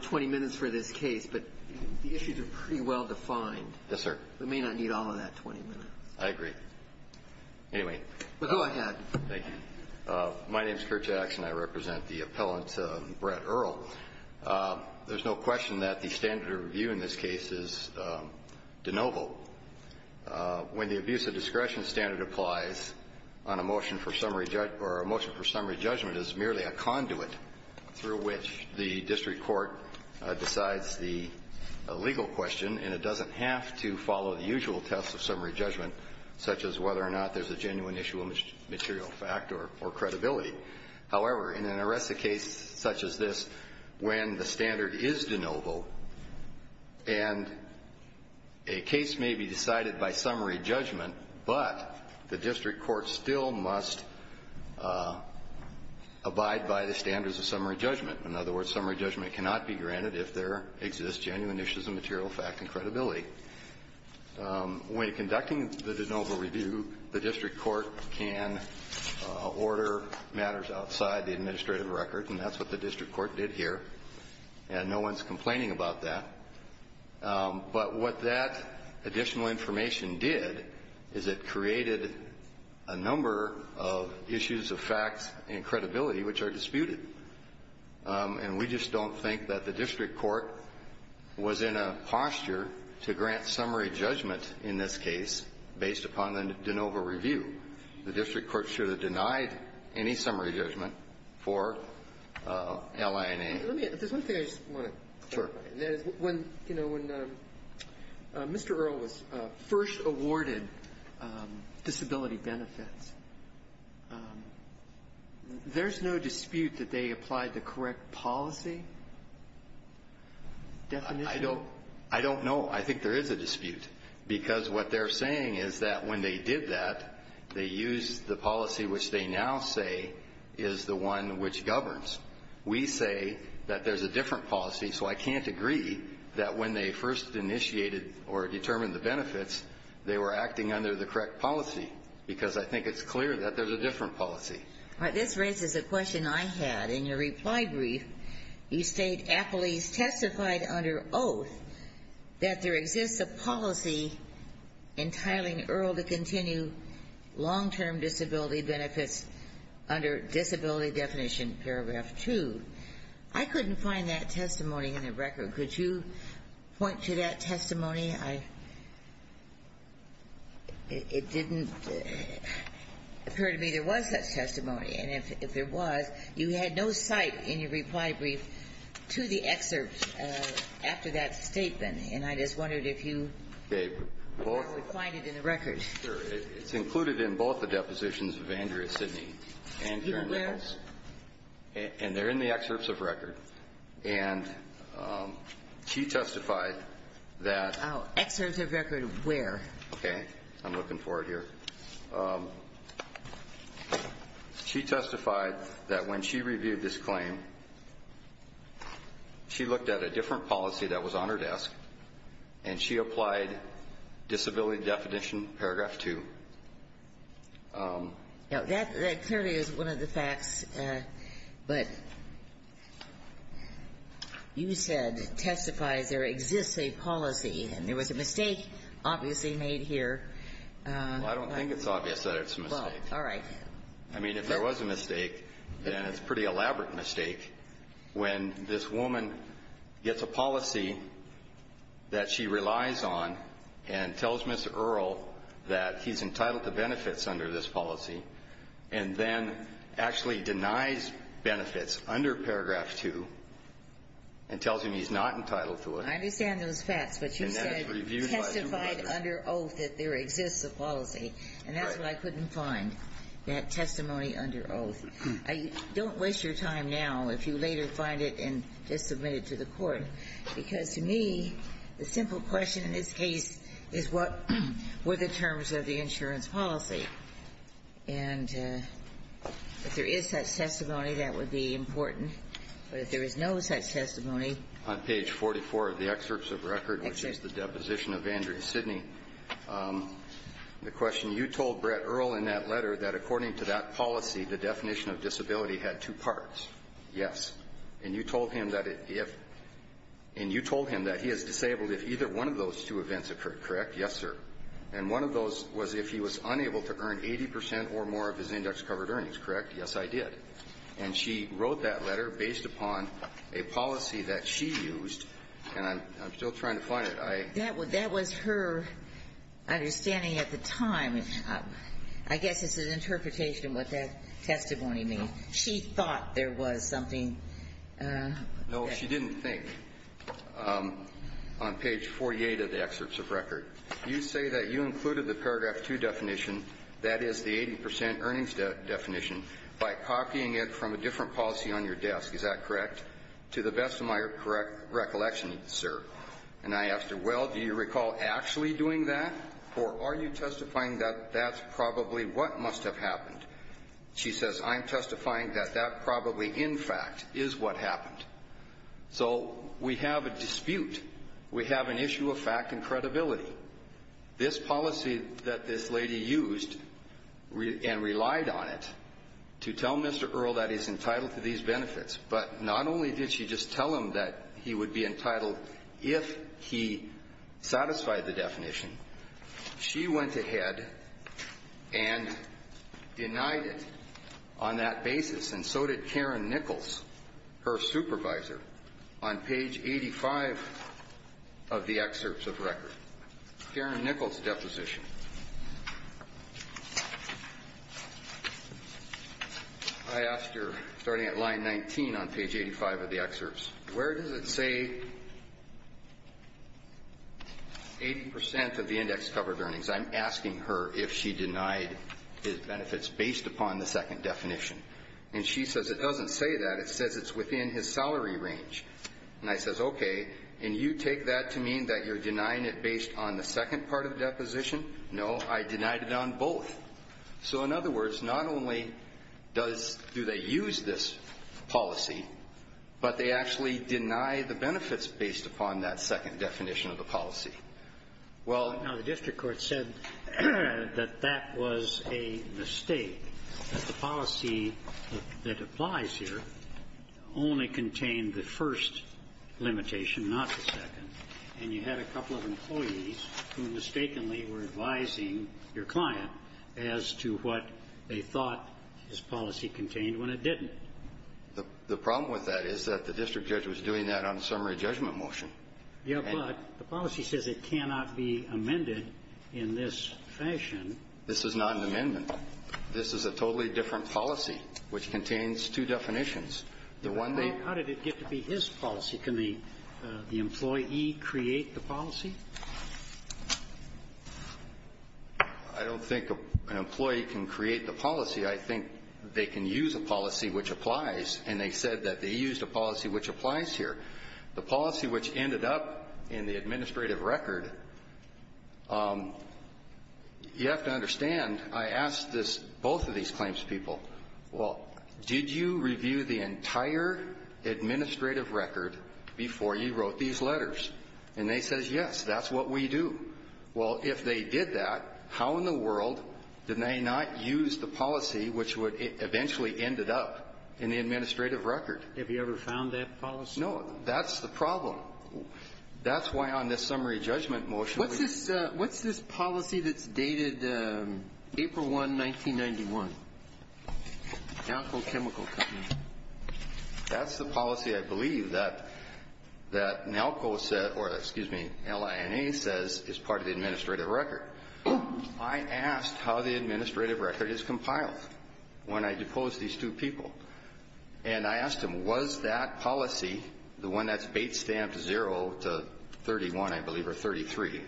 20 minutes for this case, but the issues are pretty well defined. Yes, sir. We may not need all of that 20 minutes. I agree Anyway, go ahead. Thank you My name is Kurt Jackson. I represent the appellant Brett Earl There's no question that the standard of review in this case is de novo When the abuse of discretion standard applies on a motion for summary judge or a motion for summary judgment is merely a conduit Through which the district court decides the Legal question and it doesn't have to follow the usual tests of summary judgment such as whether or not there's a genuine issue material fact or credibility however, in an arrest a case such as this when the standard is de novo and a case may be decided by summary judgment, but the district court still must Abide by the standards of summary judgment. In other words summary judgment cannot be granted if there exists genuine issues of material fact and credibility When conducting the de novo review the district court can Order matters outside the administrative record and that's what the district court did here and no one's complaining about that but what that additional information did is it created a Issues of facts and credibility, which are disputed And we just don't think that the district court Was in a posture to grant summary judgment in this case based upon the de novo review the district court should have denied any summary judgment for LIA Mr. Earl was first awarded disability benefits There's no dispute that they applied the correct policy I don't I don't know I think there is a dispute because what they're saying is that when they did that They used the policy which they now say is the one which governs We say that there's a different policy So I can't agree that when they first initiated or determined the benefits They were acting under the correct policy because I think it's clear that there's a different policy All right, this raises a question. I had in your reply brief. You state a police testified under oath That there exists a policy Entitling Earl to continue long-term disability benefits under disability definition paragraph 2 I Couldn't find that testimony in the record. Could you? point to that testimony I It didn't Appear to me there was that testimony and if there was you had no sight in your reply brief to the excerpts After that statement, and I just wondered if you gave Find it in the records. It's included in both the depositions of Andrea Sydney and you know and they're in the excerpts of record and She testified that excerpts of record where okay, I'm looking for it here She testified that when she reviewed this claim She looked at a different policy that was on her desk and she applied disability definition paragraph 2 Now that clearly is one of the facts but You Said testifies there exists a policy and there was a mistake obviously made here All right, I mean if there was a mistake then it's pretty elaborate mistake when this woman gets a policy That she relies on and tells mr. Earl that he's entitled to benefits under this policy and then actually denies benefits under paragraph 2 And tells him he's not entitled to it. I understand those facts, but you said Testified under oath that there exists a policy and that's what I couldn't find that testimony under oath I don't waste your time now if you later find it and just submit it to the court because to me the simple question in this case is what were the terms of the insurance policy and If there is such testimony that would be important But if there is no such testimony on page 44 of the excerpts of record, which is the deposition of Andrea Sidney The question you told Brett Earl in that letter that according to that policy the definition of disability had two parts Yes, and you told him that it if and you told him that he is disabled if either one of those two events occurred Correct. Yes, sir And one of those was if he was unable to earn 80% or more of his index covered earnings, correct Yes, I did and she wrote that letter based upon a policy that she used and I'm still trying to find it I that would that was her Understanding at the time. I guess it's an interpretation what that testimony means. She thought there was something No, she didn't think On page 48 of the excerpts of record you say that you included the paragraph 2 definition That is the 80% earnings definition by copying it from a different policy on your desk Is that correct to the best of my correct recollection, sir? And I asked her well, do you recall actually doing that or are you testifying that that's probably what must have happened? She says I'm testifying that that probably in fact is what happened So we have a dispute we have an issue of fact and credibility This policy that this lady used And relied on it to tell mr. Earl that he's entitled to these benefits but not only did she just tell him that he would be entitled if he satisfied the definition she went ahead and Denied it on that basis and so did Karen Nichols her supervisor on page 85 of the excerpts of record Karen Nichols deposition I Asked her starting at line 19 on page 85 of the excerpts, where does it say? 80% of the index covered earnings I'm asking her if she denied his benefits based upon the second definition And she says it doesn't say that it says it's within his salary range And I says okay, and you take that to mean that you're denying it based on the second part of the deposition No, I denied it on both So in other words not only does do they use this? Policy, but they actually deny the benefits based upon that second definition of the policy Well now the district court said that that was a mistake the policy that applies here only contained the first limitation not the second and you had a couple of employees who mistakenly were advising your client as To what they thought his policy contained when it didn't The the problem with that is that the district judge was doing that on the summary judgment motion Yeah, but the policy says it cannot be amended in this fashion. This is not an amendment This is a totally different policy which contains two definitions the one day How did it get to be his policy can the the employee create the policy? I? Can create the policy I think they can use a policy which applies and they said that they used a policy which applies here The policy which ended up in the administrative record You have to understand I asked this both of these claims people well, did you review the entire Administrative record before you wrote these letters, and they says yes, that's what we do Well if they did that how in the world did they not use the policy which would eventually end it up in the Administrative record have you ever found that policy? No, that's the problem That's why on this summary judgment motion. What's this? What's this policy? That's dated? April 1 1991 Alco chemical That's the policy. I believe that That now co-set or excuse me LIA says is part of the administrative record I Asked how the administrative record is compiled when I depose these two people And I asked him was that policy the one that's bait stamped 0 to 31. I believe or 33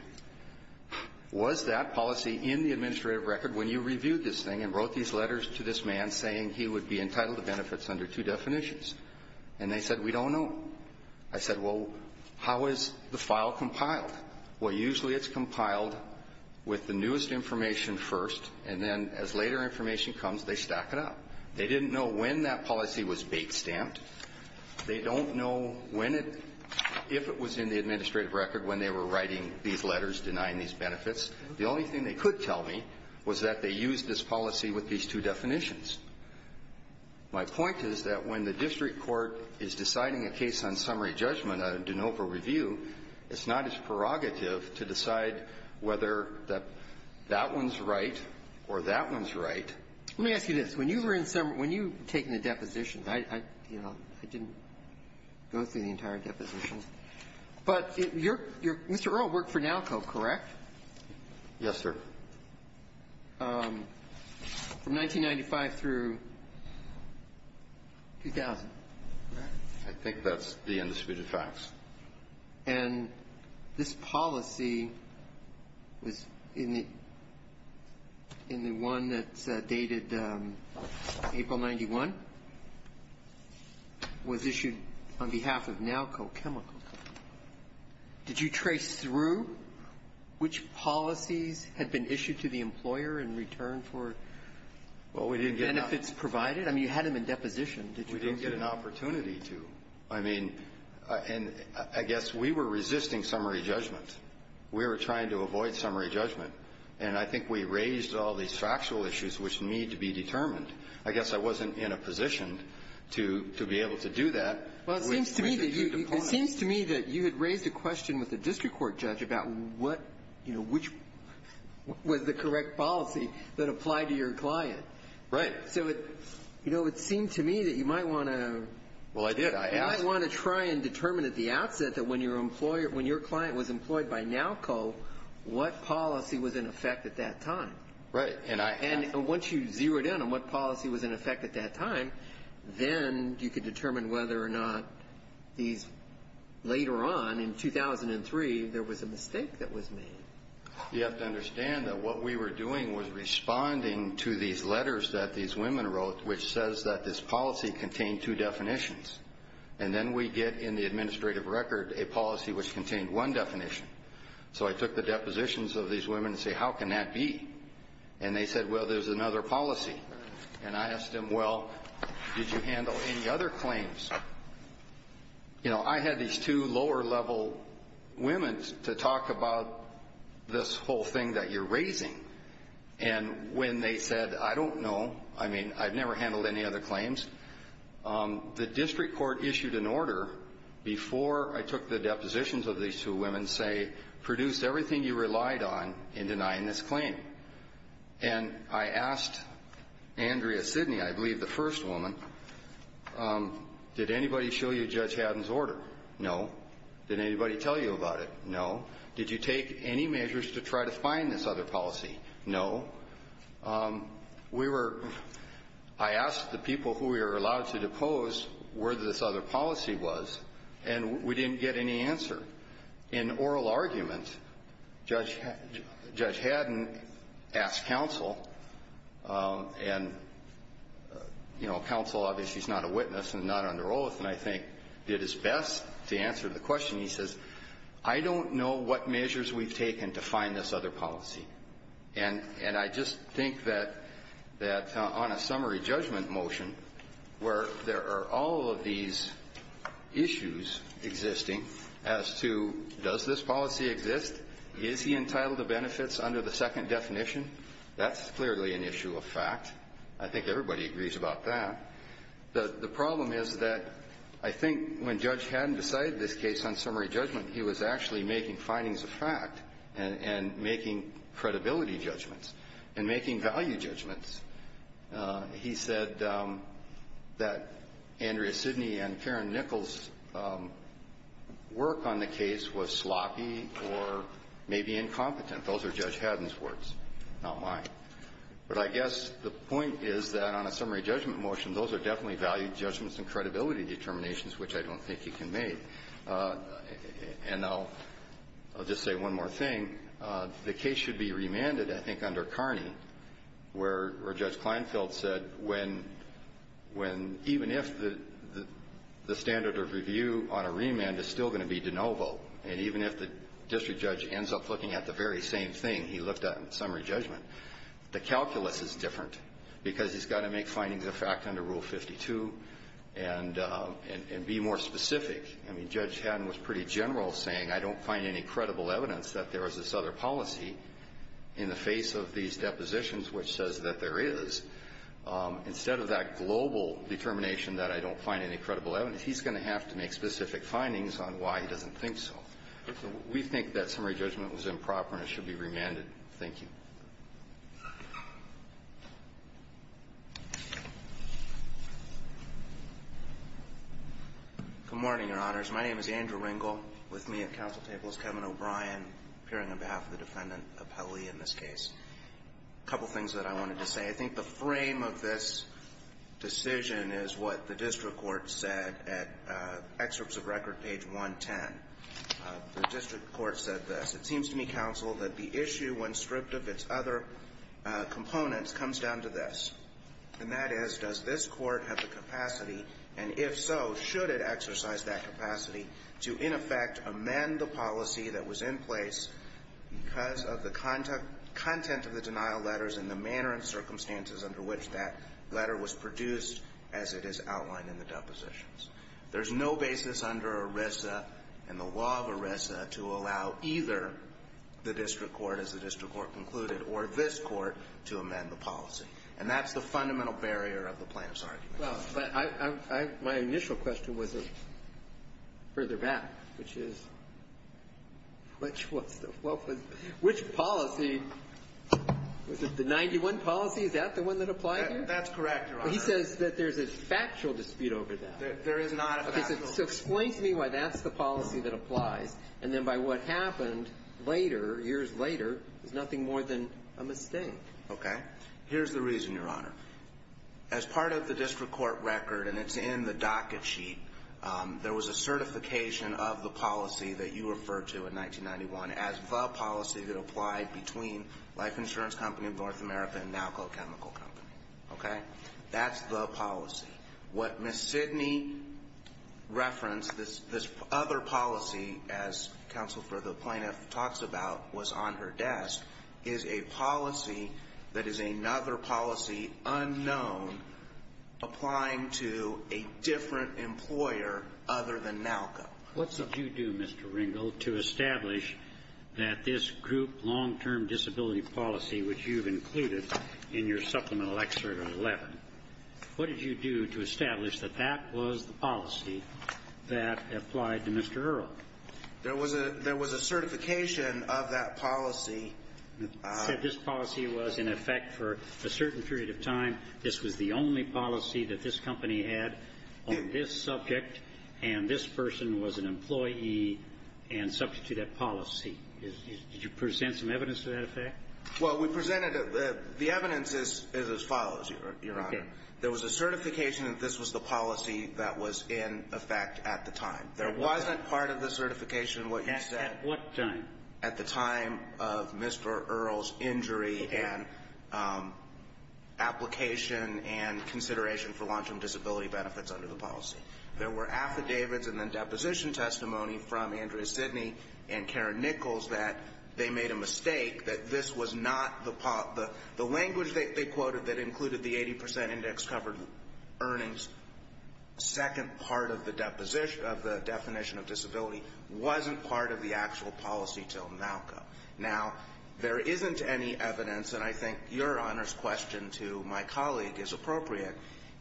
Was that policy in the administrative record when you reviewed this thing and wrote these letters to this man saying he would be entitled to Benefits under two definitions, and they said we don't know I said well, how is the file compiled well usually it's compiled With the newest information first and then as later information comes they stack it up They didn't know when that policy was bait stamped They don't know when it If it was in the administrative record when they were writing these letters denying these benefits The only thing they could tell me was that they used this policy with these two definitions My point is that when the district court is deciding a case on summary judgment I didn't know for review It's not as prerogative to decide whether that that one's right or that one's right Let me ask you this when you were in summer when you taking the depositions. I you know I didn't Go through the entire depositions, but you're you're mr.. Earl work for now coke correct Yes, sir From 1995 through 2000 I think that's the indisputed facts and This policy was in it in the one that's dated April 91 Was issued on behalf of now cochemical Did you trace through? Which policies had been issued to the employer in return for Well, we didn't get if it's provided. I mean you had him in deposition Did we don't get an opportunity to I mean and I guess we were resisting summary judgment? We were trying to avoid summary judgment, and I think we raised all these factual issues which need to be determined I guess I wasn't in a position to to be able to do that It seems to me that you had raised a question with the district court judge about what you know which Was the correct policy that apply to your client right so it? You know it seemed to me that you might want to well I did I want to try and determine at the outset that when your employer when your client was employed by now call What policy was in effect at that time right and I and once you zeroed in on what policy was in effect at that time? Then you could determine whether or not these Later on in 2003 there was a mistake that was me You have to understand that what we were doing was responding to these letters that these women wrote which says that this policy Contained two definitions, and then we get in the administrative record a policy which contained one definition So I took the depositions of these women and say how can that be and they said well? There's another policy, and I asked him well. Did you handle any other claims? You know I had these two lower-level women's to talk about This whole thing that you're raising and when they said I don't know I mean I've never handled any other claims The district court issued an order Before I took the depositions of these two women say produced everything you relied on in denying this claim And I asked Andrea Sidney, I believe the first woman Did anybody show you judge Haddon's order no did anybody tell you about it? No, did you take any measures to try to find this other policy no? We were I Asked the people who we are allowed to depose where this other policy was and we didn't get any answer in oral argument judge Judge Haddon asked counsel and You know counsel obviously is not a witness and not under oath And I think it is best to answer the question he says I don't know what measures We've taken to find this other policy and and I just think that that on a summary judgment motion Where there are all of these? Issues Existing as to does this policy exist is he entitled to benefits under the second definition? That's clearly an issue of fact. I think everybody agrees about that The the problem is that I think when judge hadn't decided this case on summary judgment He was actually making findings of fact and and making credibility judgments and making value judgments he said That Andrea Sidney and Karen Nichols Work on the case was sloppy or maybe incompetent. Those are judge Haddon's words not mine But I guess the point is that on a summary judgment motion. Those are definitely valued judgments and credibility determinations Which I don't think you can make And now I'll just say one more thing The case should be remanded. I think under Carney Where judge Kleinfeld said when when even if the the standard of review on a remand is still going to be de novo and even if the District judge ends up looking at the very same thing. He looked at in summary judgment the calculus is different because he's got to make findings of fact under rule 52 and And be more specific. I mean judge Haddon was pretty general saying I don't find any credible evidence that there is this other policy in The face of these depositions which says that there is Instead of that global determination that I don't find any credible evidence He's going to have to make specific findings on why he doesn't think so We think that summary judgment was improper and it should be remanded. Thank you Good morning, your honors. My name is Andrew Ringel with me at council tables. Kevin O'Brien appearing on behalf of the defendant appellee in this case A couple things that I wanted to say. I think the frame of this decision is what the district court said at Excerpts of record page 110 The district court said this it seems to me counsel that the issue when stripped of its other Components comes down to this And that is does this court have the capacity and if so, should it exercise that capacity to in effect Amend the policy that was in place because of the content of the denial letters and the manner and Circumstances under which that letter was produced as it is outlined in the depositions There's no basis under ERISA and the law of ERISA to allow either The district court as the district court concluded or this court to amend the policy and that's the fundamental barrier of the plaintiff's argument well, but I my initial question was a further back which is Which what's the what was which policy? Was it the 91 policy? Is that the one that applied? That's correct. He says that there's a factual dispute over that So explain to me why that's the policy that applies and then by what happened Later years later. There's nothing more than a mistake. Okay. Here's the reason your honor As part of the district court record and it's in the docket sheet There was a certification of the policy that you referred to in 1991 as the policy that applied between Life insurance company in North America and now called chemical company. Okay, that's the policy what miss Sidney? Reference this this other policy as Counsel for the plaintiff talks about was on her desk is a policy. That is another policy unknown Applying to a different employer other than now. What's up you do? Mr. Ringo to establish that? This group long-term disability policy, which you've included in your supplemental excerpt 11 What did you do to establish that that was the policy that applied to mr. Earl, there was a there was a certification of that policy Said this policy was in effect for a certain period of time this was the only policy that this company had on this subject and this person was an employee and Subject to that policy. Did you present some evidence to that effect? Well, we presented the the evidence is as follows your honor There was a certification that this was the policy that was in effect at the time there wasn't part of the certification what yes at what time at the time of mr. Earl's injury and Application and consideration for long-term disability benefits under the policy there were affidavits and then deposition testimony from Andrea Sidney and Mistake that this was not the part the the language that they quoted that included the 80% index covered earnings Second part of the deposition of the definition of disability wasn't part of the actual policy till now Now there isn't any evidence and I think your honors question to my colleague is appropriate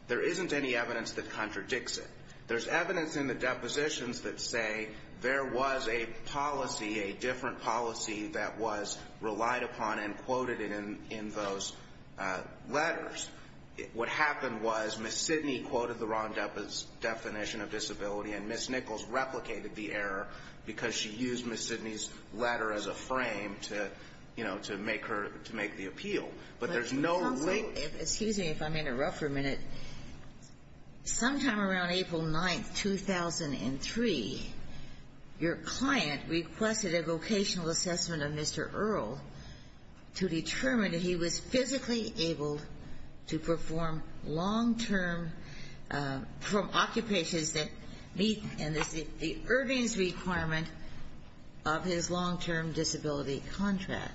There isn't any evidence that contradicts it There's evidence in the depositions that say there was a policy a different policy that was Relied upon and quoted it in in those letters What happened was miss Sidney quoted the wrong depth is definition of disability and miss Nichols replicated the error Because she used miss Sidney's letter as a frame to you know to make her to make the appeal But there's no excuse me if I'm in a rough for a minute Sometime around April 9th 2003 Your client requested a vocational assessment of mr. Earl To determine if he was physically able to perform long-term From occupations that meet in this the earnings requirement of his long-term disability contract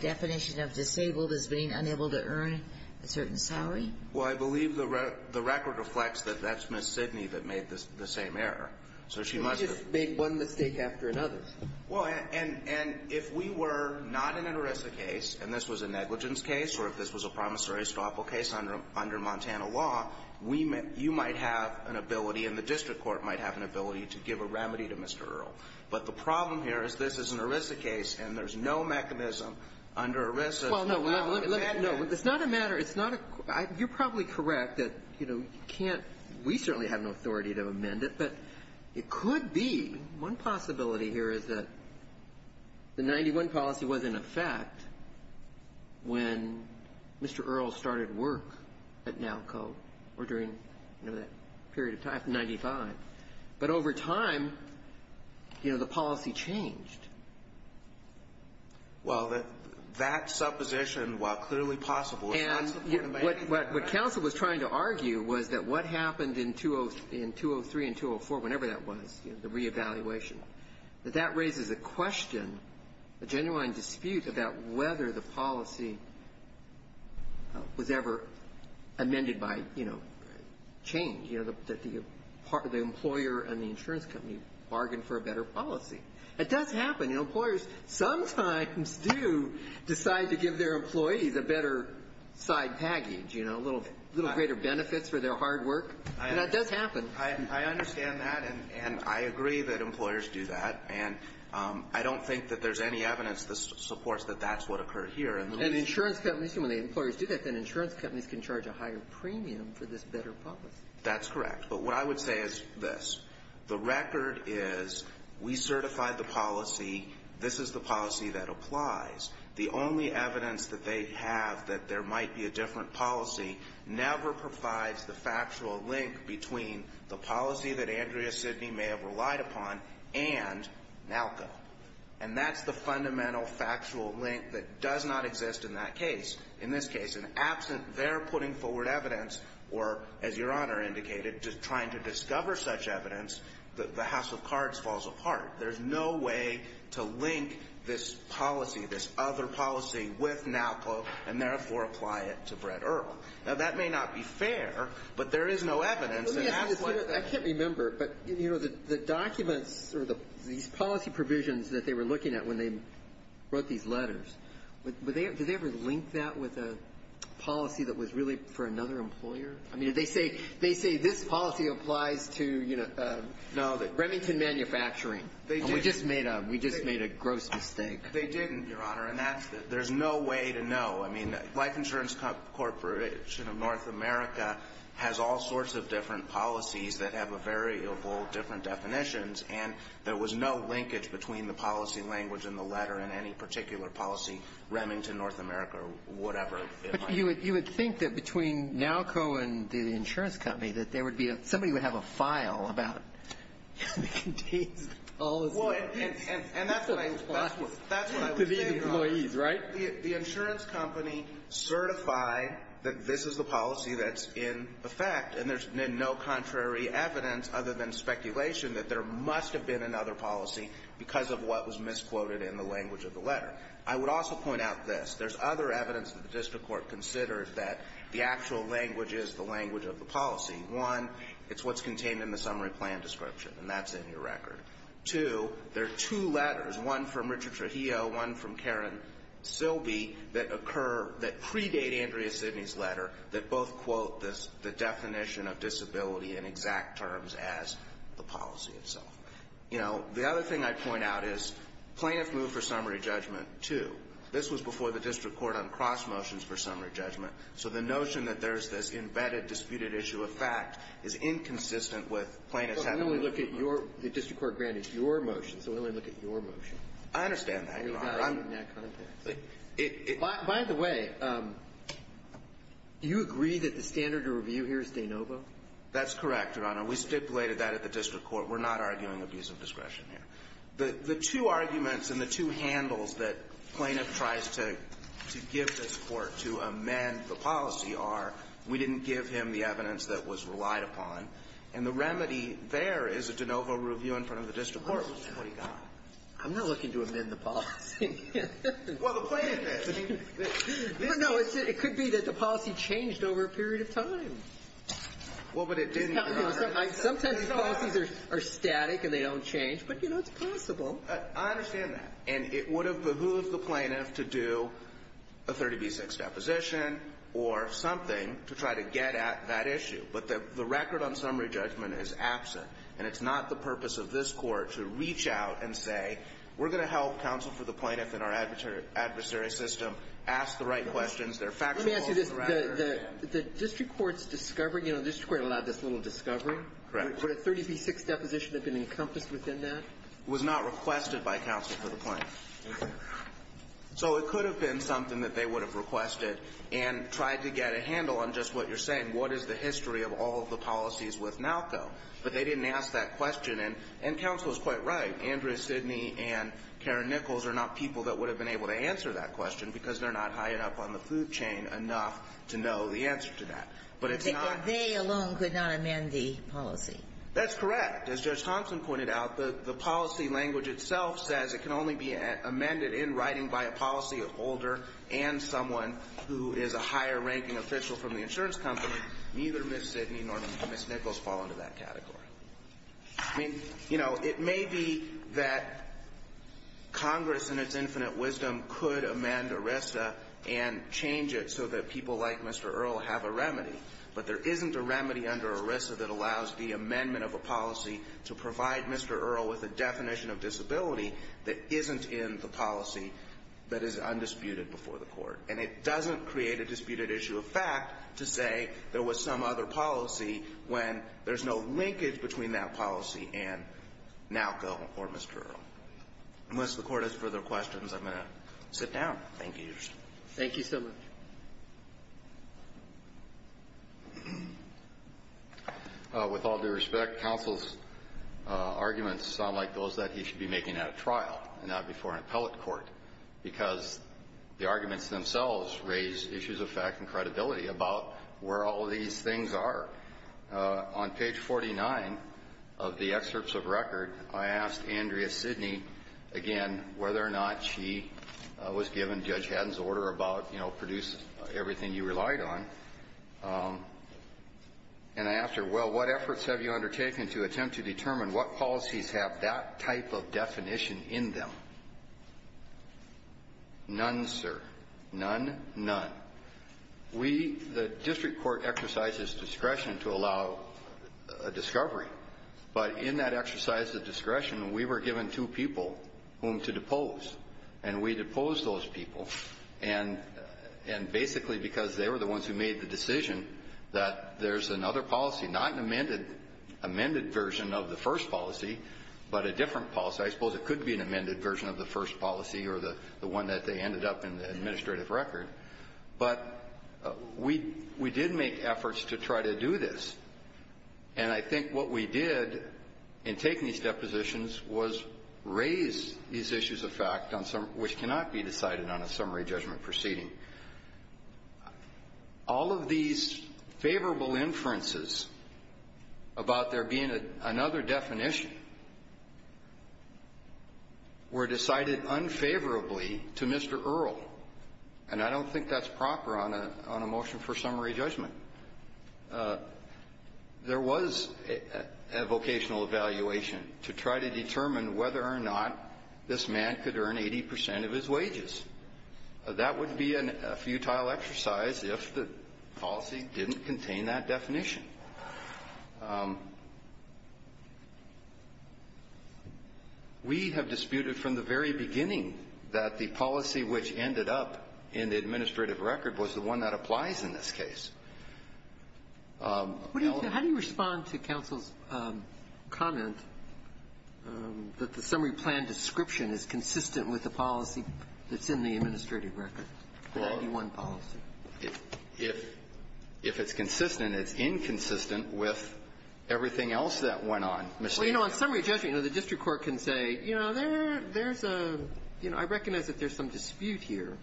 Definition of disabled as being unable to earn a certain salary Well, I believe the record reflects that that's miss Sidney that made this the same error So she might just make one mistake after another Well, and and if we were not in an Orissa case and this was a negligence case Or if this was a promissory stopple case under under Montana law We meant you might have an ability and the district court might have an ability to give a remedy to mr. Earl, but the problem here is this is an Orissa case and there's no mechanism under a It's not a matter it's not a you're probably correct that you know you can't we certainly have no authority to amend it, but it could be one possibility here is that The 91 policy was in effect when Mr. Earl started work at now Co or during you know that period of time 95 but over time You know the policy changed Well that that supposition while clearly possible and What what council was trying to argue was that what happened in 20 in 203 and 204 whenever that was the re-evaluation? But that raises a question a genuine dispute about whether the policy Was ever amended by you know Change, you know that the part of the employer and the insurance company bargained for a better policy It does happen in employers sometimes do decide to give their employees a better Side package, you know a little little greater benefits for their hard work. I know that's happened I understand that and I agree that employers do that and I don't think that there's any evidence This supports that that's what occurred here and the insurance companies when the employers do that then insurance companies can charge a higher Premium for this better policy. That's correct But what I would say is this the record is we certify the policy This is the policy that applies the only evidence that they have that there might be a different policy never provides the factual link between the policy that Andrea Sidney may have relied upon and Nalco and that's the fundamental factual link that does not exist in that case in this case and absent They're putting forward evidence or as your honor indicated just trying to discover such evidence That the House of Cards falls apart There's no way to link this policy this other policy with Nalco and therefore apply it to Brett Earl Now that may not be fair, but there is no evidence I can't remember but you know that the documents or the these policy provisions that they were looking at when they wrote these letters, but they did they ever link that with a Policy that was really for another employer. I mean they say they say this policy applies to you know Now that Remington manufacturing they just made up. We just made a gross mistake They didn't your honor and that's there's no way to know. I mean Life Insurance Corporation of North America Has all sorts of different policies that have a variable different definitions And there was no linkage between the policy language in the letter in any particular policy Remington North America or whatever you would you would think that between Nalco and the insurance company that there would be a somebody would have a file about The insurance company Certified that this is the policy that's in effect And there's no contrary evidence other than speculation that there must have been another policy Because of what was misquoted in the language of the letter I would also point out this there's other evidence that the district court considered that the actual language is the language of the policy one It's what's contained in the summary plan description, and that's in your record to there are two letters one from Richard Trujillo one from Karen Silby that occur that predate Andrea Sidney's letter that both quote this the definition of disability in exact terms as The policy itself, you know the other thing I point out is plaintiff move for summary judgment, too This was before the district court on cross motions for summary judgment So the notion that there's this embedded disputed issue of fact is inconsistent with plaintiffs How do we look at your the district court granted your motion? So when we look at your motion, I understand By the way Do you agree that the standard to review here is de novo that's correct your honor we stipulated that at the district court We're not arguing abuse of discretion here the the two arguments and the two handles that plaintiff tries to To give this court to amend the policy are we didn't give him the evidence that was relied upon and the remedy There is a de novo review in front of the district court I'm not looking to amend the policy It could be that the policy changed over a period of time Well, but it didn't Sometimes policies are static and they don't change but you know, it's possible I understand that and it would have behooved the plaintiff to do a 30b6 deposition or Something to try to get at that issue But the record on summary judgment is absent and it's not the purpose of this court to reach out and say We're going to help counsel for the plaintiff in our adversary system ask the right questions. They're fact The district courts discovering, you know, this is quite a lot of this little discovery Correct, but a 30b6 deposition have been encompassed within that was not requested by counsel for the point So it could have been something that they would have requested and tried to get a handle on just what you're saying What is the history of all of the policies with Malco? But they didn't ask that question and and counsel is quite right Andrea Sidney and Karen Nichols are not people that would have been able to answer that question because they're not high enough on the food chain Enough to know the answer to that, but it's not they alone could not amend the policy That's correct as judge Thompson pointed out the the policy language itself says it can only be Amended in writing by a policy of older and someone who is a higher ranking official from the insurance company Neither miss Sidney nor miss Nichols fall into that category. I mean, you know, it may be that Congress and its infinite wisdom could amend ERISA and change it so that people like mr Earl have a remedy but there isn't a remedy under ERISA that allows the amendment of a policy to provide mr Earl with a definition of disability that isn't in the policy that is undisputed before the court and it doesn't create a disputed issue of fact to say there was some other policy when there's no linkage between that policy and Now go before mr. Earl Unless the court has further questions. I'm going to sit down. Thank you. Thank you so much With all due respect counsel's arguments sound like those that he should be making at a trial and not before an appellate court because The arguments themselves raise issues of fact and credibility about where all these things are On page 49 of the excerpts of record. I asked Andrea Sidney again whether or not she Was given judge Haddon's order about you know, produce everything you relied on and After well, what efforts have you undertaken to attempt to determine what policies have that type of definition in them? None, sir. None. None We the district court exercises discretion to allow a discovery but in that exercise the discretion we were given two people whom to depose and we depose those people and And basically because they were the ones who made the decision that there's another policy not an amended amended version of the first policy But a different policy, I suppose it could be an amended version of the first policy or the the one that they ended up in the administrative record but We we did make efforts to try to do this and I think what we did in taking these depositions was Raise these issues of fact on some which cannot be decided on a summary judgment proceeding All of these favorable inferences About there being a another definition Were decided unfavorably to mr. Earl and I don't think that's proper on a on a motion for summary judgment There was a Vocational evaluation to try to determine whether or not this man could earn 80% of his wages That would be a futile exercise if the policy didn't contain that definition we Have disputed from the very beginning that the policy which ended up in the administrative record was the one that applies in this case How do you respond to counsel's comment That the summary plan description is consistent with the policy that's in the administrative record If If it's consistent, it's inconsistent with Everything else that went on. Well, you know on summary judgment, you know, the district court can say, you know, there's a you know I recognize that there's some dispute here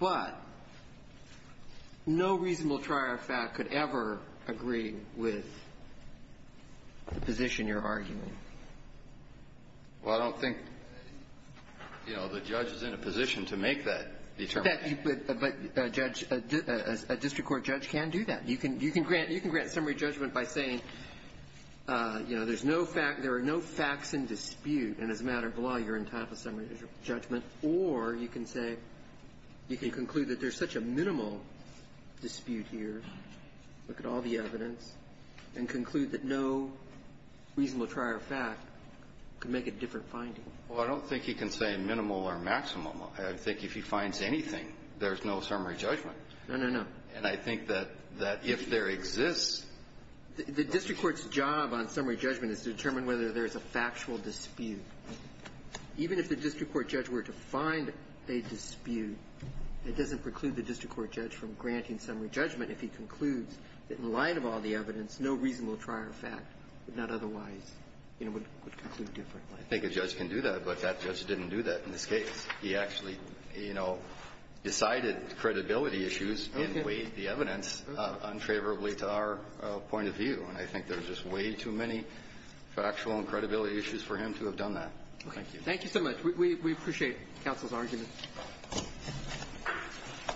but No reasonable trier of fact could ever agree with The position you're arguing Well, I don't think You know, the judge is in a position to make that But judge a district court judge can do that. You can you can grant you can grant summary judgment by saying You know, there's no fact there are no facts in dispute and as a matter of law You're in time for summary judgment, or you can say You can conclude that there's such a minimal Dispute here. Look at all the evidence and conclude that no Reasonable trier of fact could make a different finding. Well, I don't think he can say minimal or maximum I think if he finds anything, there's no summary judgment. No, no, no, and I think that that if there exists The district court's job on summary judgment is to determine whether there's a factual dispute Even if the district court judge were to find a dispute It doesn't preclude the district court judge from granting summary judgment if he concludes that in light of all the evidence No reasonable trier of fact, but not otherwise, you know, would conclude differently I think a judge can do that, but that judge didn't do that in this case. He actually, you know Decided credibility issues and weighed the evidence Untraverably to our point of view and I think there's just way too many Factual and credibility issues for him to have done that. Thank you. Thank you so much. We appreciate counsel's argument